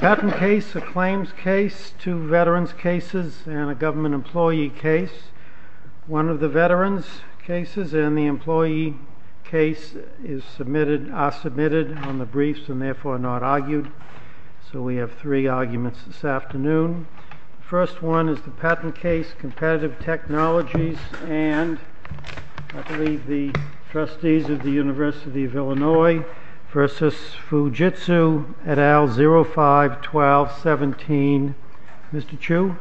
Patent case, a claims case, two veterans cases and a government employee case. One of the veterans cases and the employee case are submitted on the briefs and therefore not argued. So we have three arguments this afternoon. The first one is the patent case Competitive Technologies and I believe the trustees of the University of Illinois v. Fujitsu et al. 05-12-17. Mr. Chu.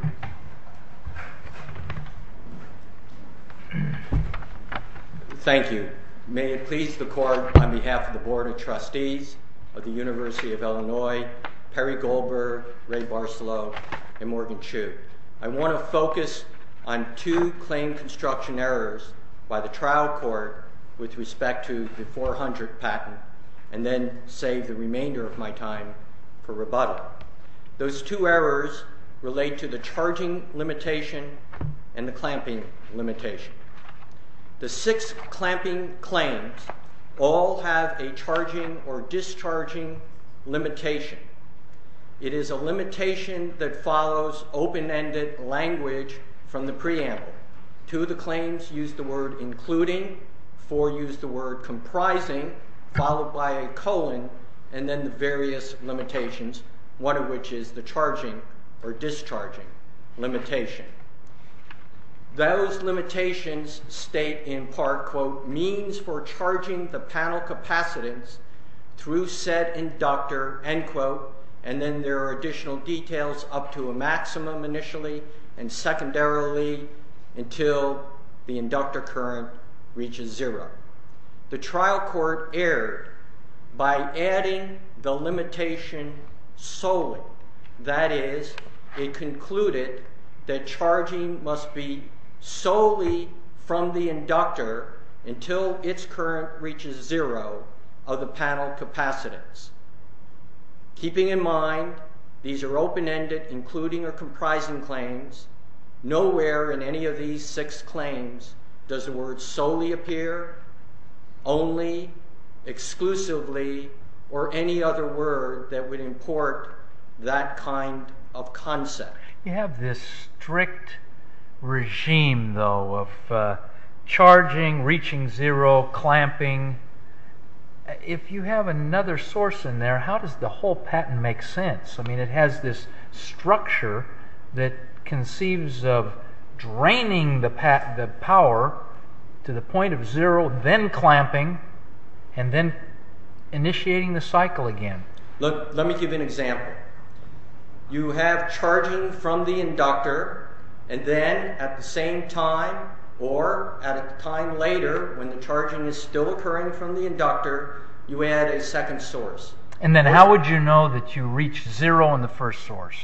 Thank you. May it please the Court on behalf of the Board of Trustees of the University of Illinois, Perry Goldberg, Ray Barcelo and Morgan Chu. I want to focus on two claim construction errors by the trial court with respect to the 400 patent and then save the remainder of my time for rebuttal. Those two errors relate to the charging limitation and the clamping limitation. The six clamping claims all have a charging or discharging limitation. It is a limitation that follows open-ended language from the preamble. Two of the claims use the word including, four use the word comprising, followed by a colon and then the various limitations, one of which is the charging or discharging limitation. Those limitations state in part, quote, means for charging the panel capacitance through said inductor, end quote, and then there are additional details up to a maximum initially and secondarily until the inductor current reaches zero. The trial court erred by adding the limitation solely, that is, it concluded that charging must be solely from the inductor until its current reaches zero of the panel capacitance. Keeping in mind these are open-ended including or comprising claims, nowhere in any of these six claims does the word solely appear, only, exclusively or any other word that would import that kind of concept. You have this strict regime, though, of charging, reaching zero, clamping. If you have another source in there, how does the whole patent make sense? I mean, it has this structure that conceives of draining the power to the point of zero, then clamping, and then initiating the cycle again. Let me give an example. You have charging from the inductor and then at the same time, or at a time later when the charging is still occurring from the inductor, you add a second source. And then how would you know that you reached zero in the first source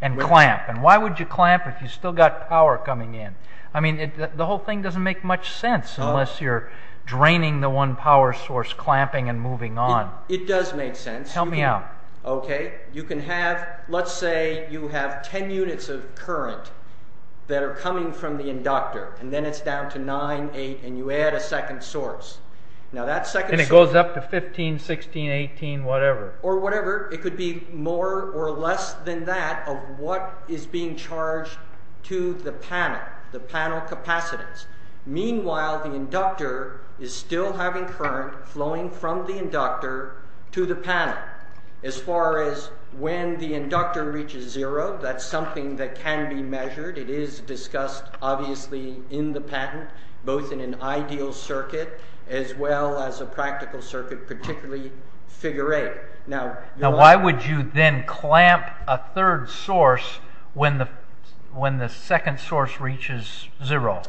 and clamp? And why would you clamp if you still got power coming in? I mean, the whole thing doesn't make much sense unless you're draining the one power source, clamping and moving on. It does make sense. Tell me how. Okay, you can have, let's say you have ten units of current that are coming from the inductor, and then it's down to nine, eight, and you add a second source. And it goes up to 15, 16, 18, whatever. Or whatever, it could be more or less than that of what is being charged to the panel, the panel capacitance. Meanwhile, the inductor is still having current flowing from the inductor to the panel. As far as when the inductor reaches zero, that's something that can be measured. It is discussed, obviously, in the patent, both in an ideal circuit as well as a practical circuit, particularly figure eight. Now, why would you then clamp a third source when the second source reaches zero,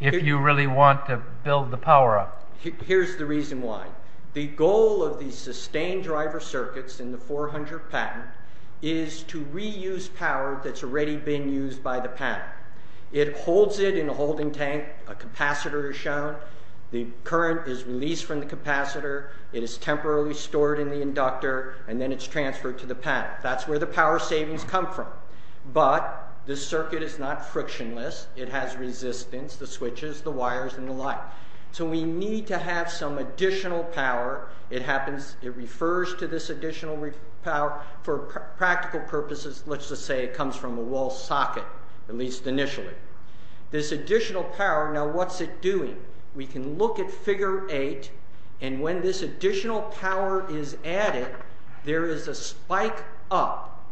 if you really want to build the power up? Well, here's the reason why. The goal of the sustained driver circuits in the 400 patent is to reuse power that's already been used by the panel. It holds it in a holding tank. A capacitor is shown. The current is released from the capacitor. It is temporarily stored in the inductor, and then it's transferred to the panel. That's where the power savings come from. But this circuit is not frictionless. It has resistance, the switches, the wires, and the light. So we need to have some additional power. It happens, it refers to this additional power for practical purposes. Let's just say it comes from a wall socket, at least initially. This additional power, now what's it doing? We can look at figure eight, and when this additional power is added, there is a spike up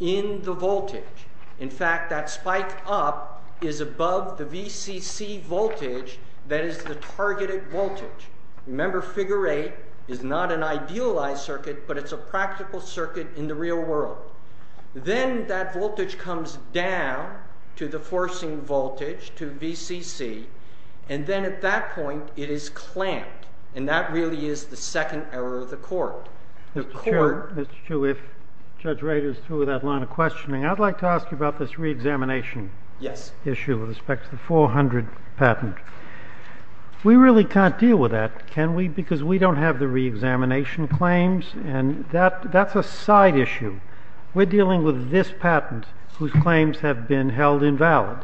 in the voltage. In fact, that spike up is above the VCC voltage that is the targeted voltage. Remember, figure eight is not an idealized circuit, but it's a practical circuit in the real world. Then that voltage comes down to the forcing voltage, to VCC, and then at that point it is clamped. And that really is the second error of the court. Mr. Chiu, if Judge Rader is through with that line of questioning, I'd like to ask you about this reexamination issue with respect to the 400 patent. We really can't deal with that, can we? Because we don't have the reexamination claims, and that's a side issue. We're dealing with this patent whose claims have been held invalid,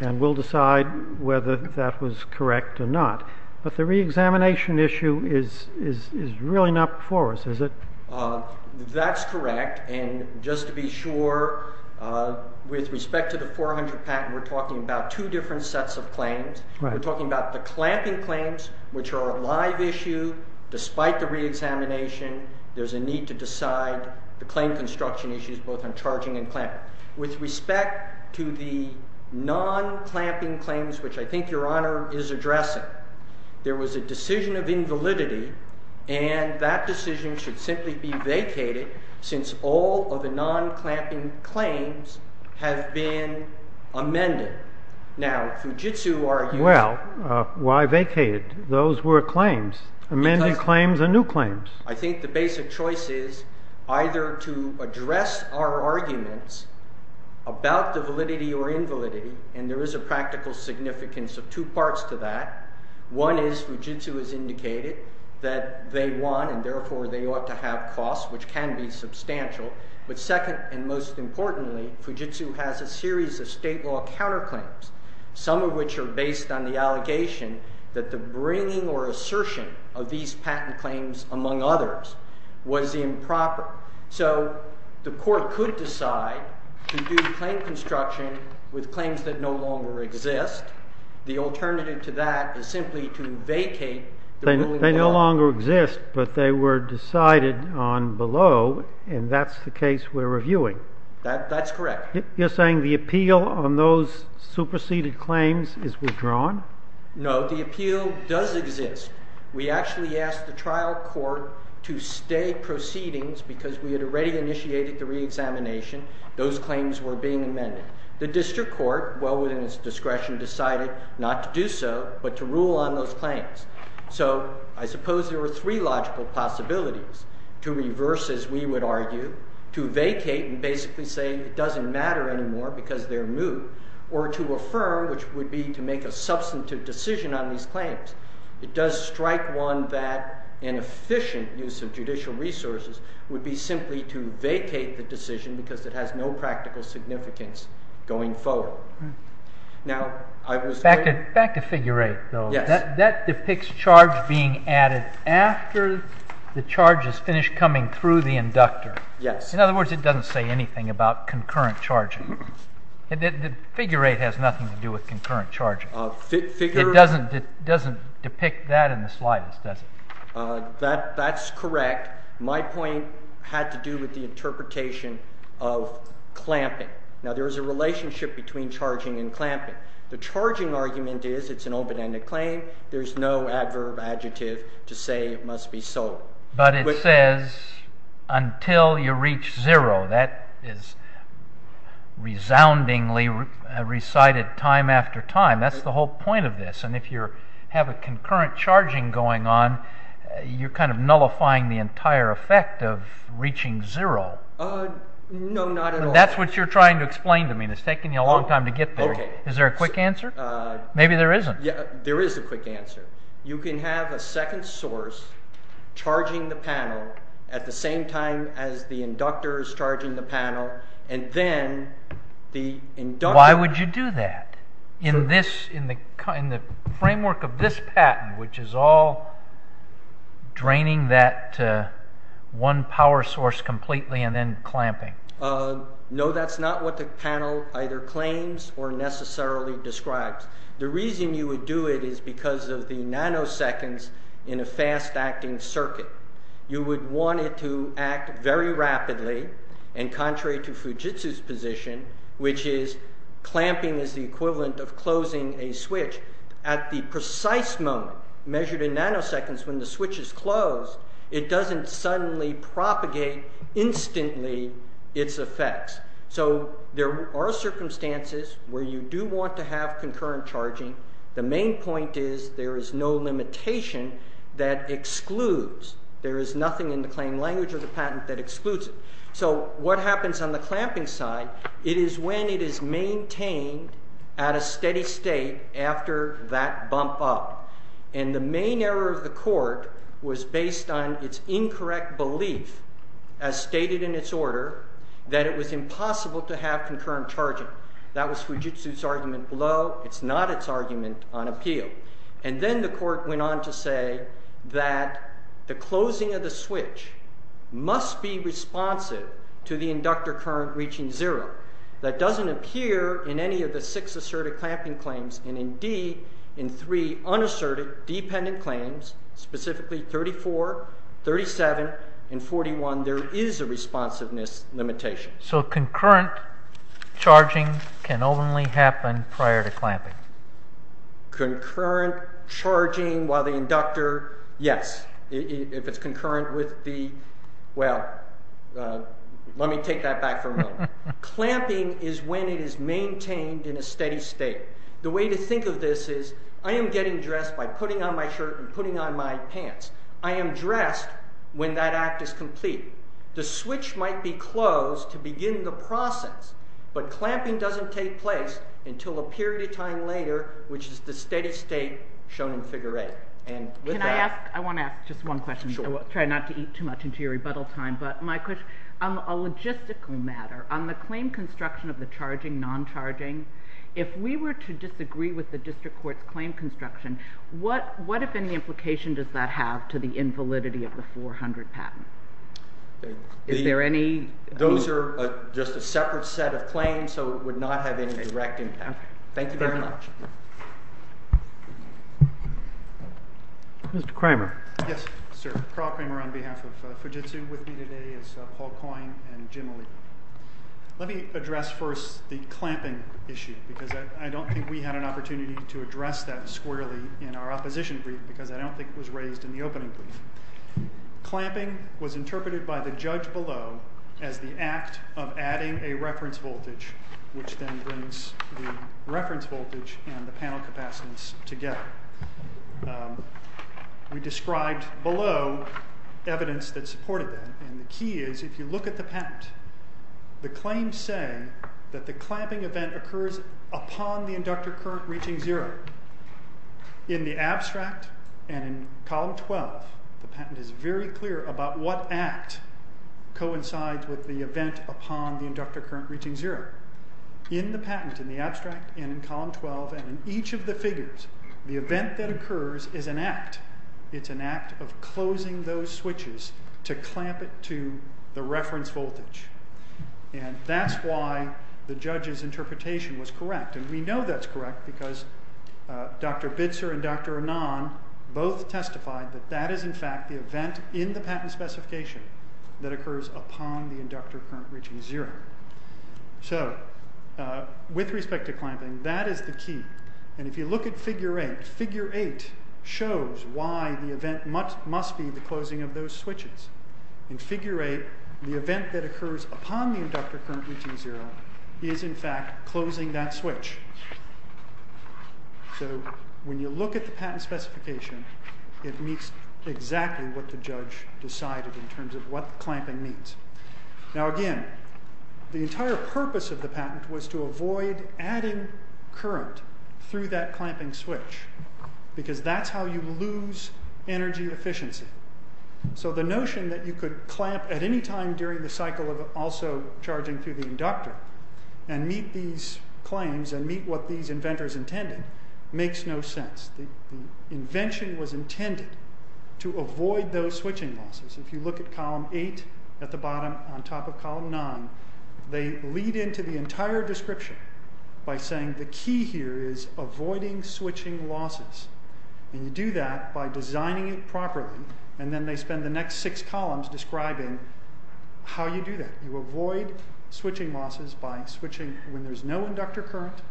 and we'll decide whether that was correct or not. But the reexamination issue is really not before us, is it? That's correct, and just to be sure, with respect to the 400 patent, we're talking about two different sets of claims. We're talking about the clamping claims, which are a live issue. Despite the reexamination, there's a need to decide the claim construction issues, both on charging and clamping. With respect to the non-clamping claims, which I think Your Honor is addressing, there was a decision of invalidity, and that decision should simply be vacated since all of the non-clamping claims have been amended. Now, Fujitsu argues— Well, why vacated? Those were claims, amended claims and new claims. I think the basic choice is either to address our arguments about the validity or invalidity, and there is a practical significance of two parts to that. One is Fujitsu has indicated that they want and therefore they ought to have costs, which can be substantial. But second and most importantly, Fujitsu has a series of state law counterclaims, some of which are based on the allegation that the bringing or assertion of these patent claims, among others, was improper. So the court could decide to do claim construction with claims that no longer exist. The alternative to that is simply to vacate the ruling of the law. They no longer exist, but they were decided on below, and that's the case we're reviewing. That's correct. You're saying the appeal on those superseded claims is withdrawn? No, the appeal does exist. We actually asked the trial court to stay proceedings because we had already initiated the reexamination. Those claims were being amended. The district court, well within its discretion, decided not to do so but to rule on those claims. So I suppose there were three logical possibilities. To reverse, as we would argue, to vacate and basically say it doesn't matter anymore because they're moot, or to affirm, which would be to make a substantive decision on these claims. It does strike one that an efficient use of judicial resources would be simply to vacate the decision because it has no practical significance going forward. Back to figure 8, though. That depicts charge being added after the charge has finished coming through the inductor. In other words, it doesn't say anything about concurrent charging. Figure 8 has nothing to do with concurrent charging. It doesn't depict that in the slightest, does it? That's correct. My point had to do with the interpretation of clamping. Now there is a relationship between charging and clamping. The charging argument is it's an open-ended claim. There's no adverb, adjective to say it must be sold. But it says until you reach zero. That is resoundingly recited time after time. That's the whole point of this. And if you have a concurrent charging going on, you're kind of nullifying the entire effect of reaching zero. No, not at all. That's what you're trying to explain to me. It's taking you a long time to get there. Is there a quick answer? Maybe there isn't. There is a quick answer. You can have a second source charging the panel at the same time as the inductor is charging the panel. Why would you do that? In the framework of this patent, which is all draining that one power source completely and then clamping. No, that's not what the panel either claims or necessarily describes. The reason you would do it is because of the nanoseconds in a fast-acting circuit. You would want it to act very rapidly. And contrary to Fujitsu's position, which is clamping is the equivalent of closing a switch. At the precise moment measured in nanoseconds when the switch is closed, it doesn't suddenly propagate instantly its effects. So there are circumstances where you do want to have concurrent charging. The main point is there is no limitation that excludes. There is nothing in the claim language of the patent that excludes it. So what happens on the clamping side? It is when it is maintained at a steady state after that bump up. And the main error of the court was based on its incorrect belief, as stated in its order, that it was impossible to have concurrent charging. That was Fujitsu's argument below. And then the court went on to say that the closing of the switch must be responsive to the inductor current reaching zero. That doesn't appear in any of the six asserted clamping claims. And indeed, in three unasserted dependent claims, specifically 34, 37, and 41, there is a responsiveness limitation. So concurrent charging can only happen prior to clamping? Concurrent charging while the inductor, yes. If it's concurrent with the, well, let me take that back for a moment. Clamping is when it is maintained in a steady state. The way to think of this is I am getting dressed by putting on my shirt and putting on my pants. I am dressed when that act is complete. The switch might be closed to begin the process, but clamping doesn't take place until a period of time later, which is the steady state shown in figure eight. Can I ask, I want to ask just one question. I will try not to eat too much into your rebuttal time. But my question, on a logistical matter, on the claim construction of the charging, non-charging, if we were to disagree with the district court's claim construction, what if any implication does that have to the invalidity of the 400 patent? Is there any? Those are just a separate set of claims, so it would not have any direct impact. Thank you very much. Mr. Kramer. Yes, sir. Karl Kramer on behalf of Fujitsu. With me today is Paul Coyne and Jim Lee. Let me address first the clamping issue, because I don't think we had an opportunity to address that squarely in our opposition brief, because I don't think it was raised in the opening brief. Clamping was interpreted by the judge below as the act of adding a reference voltage, which then brings the reference voltage and the panel capacitance together. We described below evidence that supported that. And the key is, if you look at the patent, the claims say that the clamping event occurs upon the inductor current reaching zero. In the abstract and in column 12, the patent is very clear about what act coincides with the event upon the inductor current reaching zero. In the patent, in the abstract, and in column 12, and in each of the figures, the event that occurs is an act. It's an act of closing those switches to clamp it to the reference voltage. And that's why the judge's interpretation was correct. And we know that's correct because Dr. Bitzer and Dr. Anand both testified that that is, in fact, the event in the patent specification that occurs upon the inductor current reaching zero. So, with respect to clamping, that is the key. And if you look at figure 8, figure 8 shows why the event must be the closing of those switches. In figure 8, the event that occurs upon the inductor current reaching zero is, in fact, closing that switch. So, when you look at the patent specification, it meets exactly what the judge decided in terms of what clamping means. Now, again, the entire purpose of the patent was to avoid adding current through that clamping switch. Because that's how you lose energy efficiency. So, the notion that you could clamp at any time during the cycle of also charging through the inductor and meet these claims and meet what these inventors intended makes no sense. The invention was intended to avoid those switching losses. If you look at column 8 at the bottom on top of column 9, they lead into the entire description by saying the key here is avoiding switching losses. And you do that by designing it properly. And then they spend the next six columns describing how you do that. You avoid switching losses by switching when there's no inductor current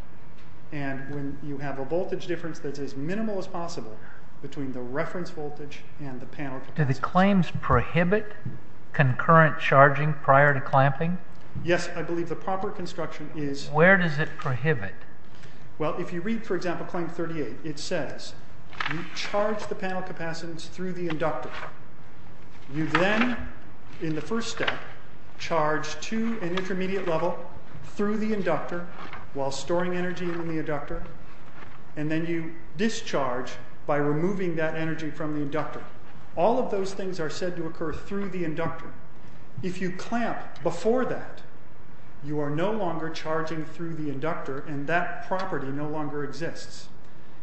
and when you have a voltage difference that's as minimal as possible between the reference voltage and the panel. Do the claims prohibit concurrent charging prior to clamping? Yes, I believe the proper construction is... Where does it prohibit? Well, if you read, for example, claim 38, it says you charge the panel capacitance through the inductor. You then, in the first step, charge to an intermediate level through the inductor while storing energy in the inductor. And then you discharge by removing that energy from the inductor. All of those things are said to occur through the inductor. If you clamp before that, you are no longer charging through the inductor. And that property no longer exists.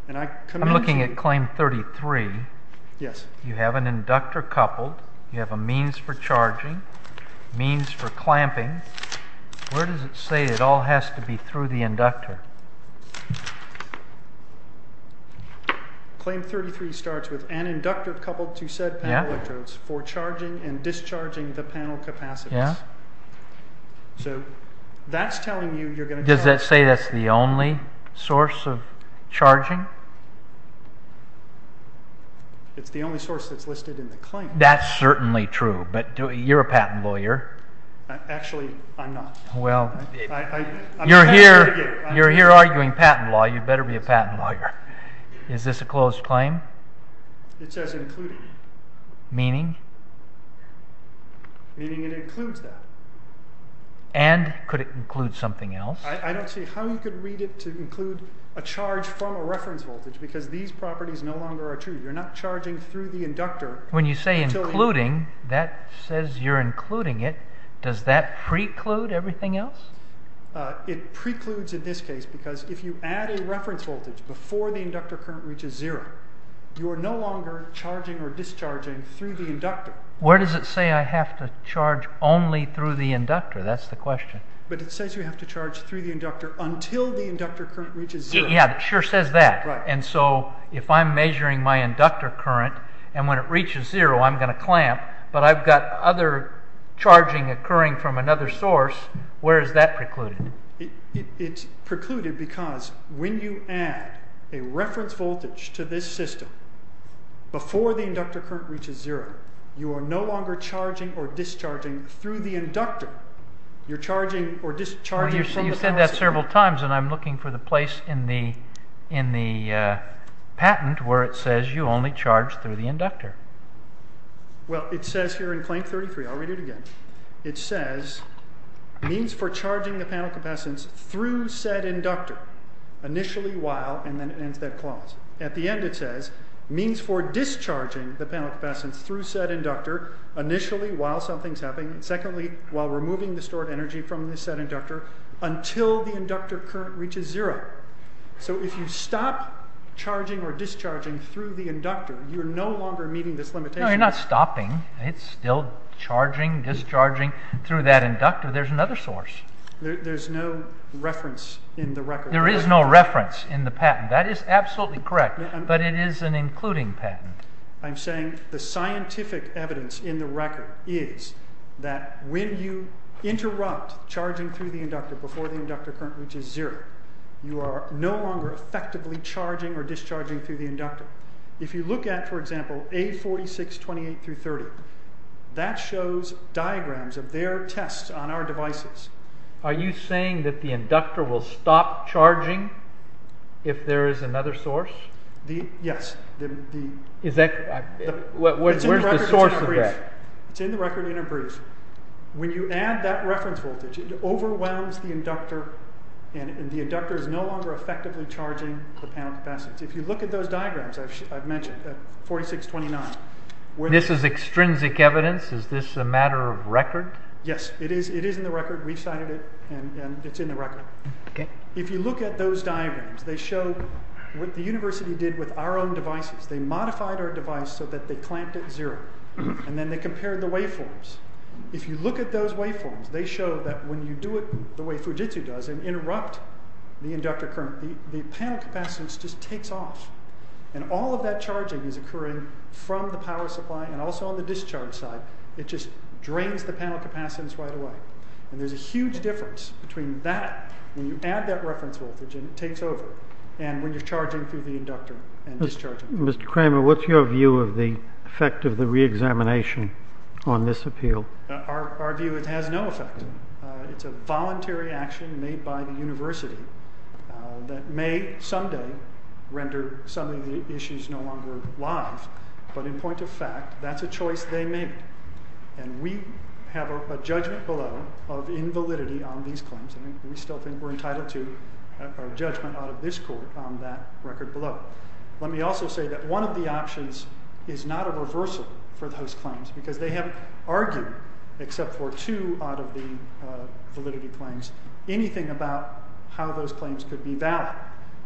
I'm looking at claim 33. You have an inductor coupled. You have a means for charging, means for clamping. Where does it say it all has to be through the inductor? Claim 33 starts with an inductor coupled to said panel electrodes for charging and discharging the panel capacitance. So that's telling you... Does that say that's the only source of charging? It's the only source that's listed in the claim. That's certainly true, but you're a patent lawyer. Actually, I'm not. You're here arguing patent law. You better be a patent lawyer. Is this a closed claim? It says included. Meaning? Meaning it includes that. And could it include something else? I don't see how you could read it to include a charge from a reference voltage, because these properties no longer are true. You're not charging through the inductor. When you say including, that says you're including it. Does that preclude everything else? It precludes in this case, because if you add a reference voltage before the inductor current reaches zero, you are no longer charging or discharging through the inductor. Where does it say I have to charge only through the inductor? That's the question. But it says you have to charge through the inductor until the inductor current reaches zero. Yeah, it sure says that. And so if I'm measuring my inductor current, and when it reaches zero I'm going to clamp, but I've got other charging occurring from another source, where is that precluded? It's precluded because when you add a reference voltage to this system before the inductor current reaches zero, you are no longer charging or discharging through the inductor. You're charging or discharging from the source. You've said that several times, and I'm looking for the place in the patent where it says you only charge through the inductor. Well, it says here in claim 33, I'll read it again. It says, means for charging the panel capacitance through said inductor, initially while, and then ends that clause. At the end it says, means for discharging the panel capacitance through said inductor, initially while something's happening, and secondly, while removing the stored energy from the said inductor, until the inductor current reaches zero. So if you stop charging or discharging through the inductor, you're no longer meeting this limitation. No, you're not stopping. It's still charging, discharging through that inductor. There's another source. There's no reference in the record. There is no reference in the patent. That is absolutely correct, but it is an including patent. I'm saying the scientific evidence in the record is that when you interrupt charging through the inductor before the inductor current reaches zero, you are no longer effectively charging or discharging through the inductor. If you look at, for example, A4628-30, that shows diagrams of their tests on our devices. Are you saying that the inductor will stop charging if there is another source? Yes. Where's the source of that? It's in the record in a brief. When you add that reference voltage, it overwhelms the inductor, and the inductor is no longer effectively charging the panel capacitance. If you look at those diagrams I've mentioned, A4629. This is extrinsic evidence? Is this a matter of record? Yes, it is in the record. We've cited it, and it's in the record. If you look at those diagrams, they show what the university did with our own devices. They modified our device so that they clamped it at zero, and then they compared the waveforms. If you look at those waveforms, they show that when you do it the way Fujitsu does and interrupt the inductor current, the panel capacitance just takes off, and all of that charging is occurring from the power supply and also on the discharge side. It just drains the panel capacitance right away, and there's a huge difference between that when you add that reference voltage and it takes over and when you're charging through the inductor and discharging. Mr. Kramer, what's your view of the effect of the reexamination on this appeal? Our view is it has no effect. It's a voluntary action made by the university that may someday render some of the issues no longer live, but in point of fact, that's a choice they made, and we have a judgment below of invalidity on these claims. We still think we're entitled to a judgment out of this court on that record below. Let me also say that one of the options is not a reversal for those claims because they have argued, except for two out of the validity claims, anything about how those claims could be valid.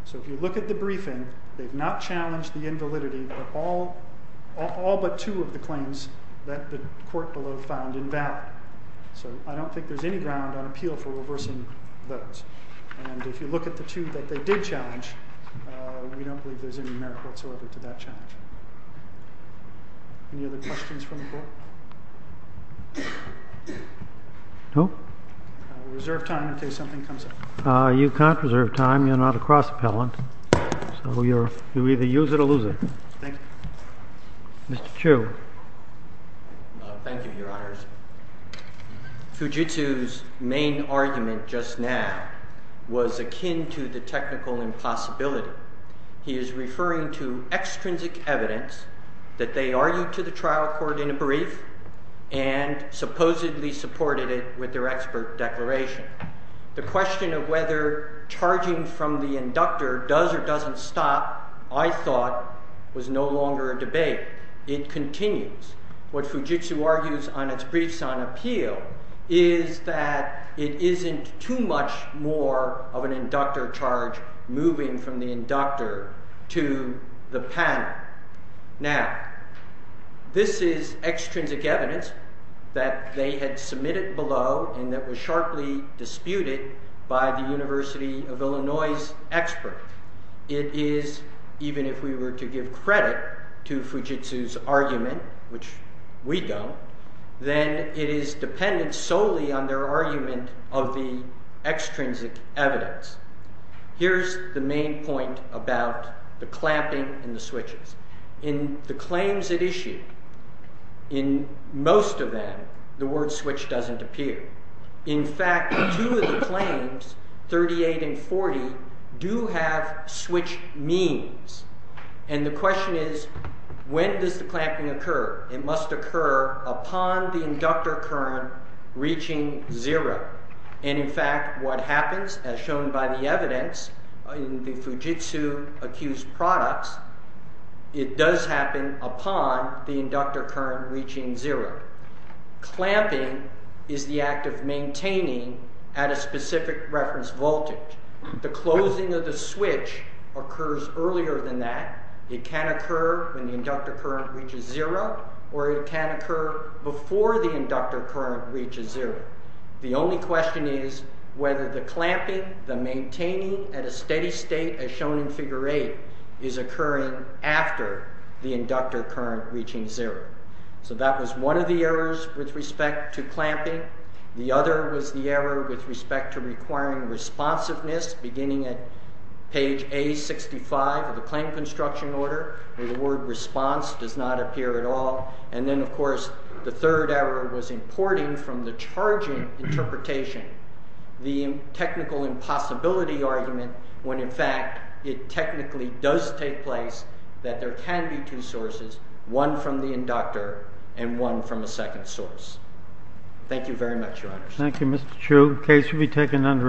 So if you look at the briefing, they've not challenged the invalidity of all but two of the claims that the court below found invalid. So I don't think there's any ground on appeal for reversing those, and if you look at the two that they did challenge, we don't believe there's any merit whatsoever to that challenge. Any other questions from the board? No. I'll reserve time in case something comes up. You can't reserve time. You're not a cross-appellant, so you either use it or lose it. Thank you. Mr. Chu. Thank you, Your Honors. Fujitsu's main argument just now was akin to the technical impossibility. He is referring to extrinsic evidence that they argued to the trial court in a brief and supposedly supported it with their expert declaration. The question of whether charging from the inductor does or doesn't stop, I thought, was no longer a debate. It continues. What Fujitsu argues on its briefs on appeal is that it isn't too much more of an inductor charge moving from the inductor to the panel. Now, this is extrinsic evidence that they had submitted below and that was sharply disputed by the University of Illinois's expert. It is, even if we were to give credit to Fujitsu's argument, which we don't, then it is dependent solely on their argument of the extrinsic evidence. Here's the main point about the clamping and the switches. In the claims it issued, in most of them, the word switch doesn't appear. In fact, two of the claims, 38 and 40, do have switch means. And the question is, when does the clamping occur? It must occur upon the inductor current reaching zero. And in fact, what happens, as shown by the evidence in the Fujitsu-accused products, it does happen upon the inductor current reaching zero. Clamping is the act of maintaining at a specific reference voltage. The closing of the switch occurs earlier than that. It can occur when the inductor current reaches zero or it can occur before the inductor current reaches zero. The only question is whether the clamping, the maintaining at a steady state, as shown in Figure 8, is occurring after the inductor current reaching zero. So that was one of the errors with respect to clamping. The other was the error with respect to requiring responsiveness, beginning at page A65 of the claim construction order, where the word response does not appear at all. And then, of course, the third error was importing from the charging interpretation the technical impossibility argument when, in fact, it technically does take place that there can be two sources, one from the inductor and one from a second source. Thank you very much, Your Honor. Thank you, Mr. Chu. The case will be taken under advisement.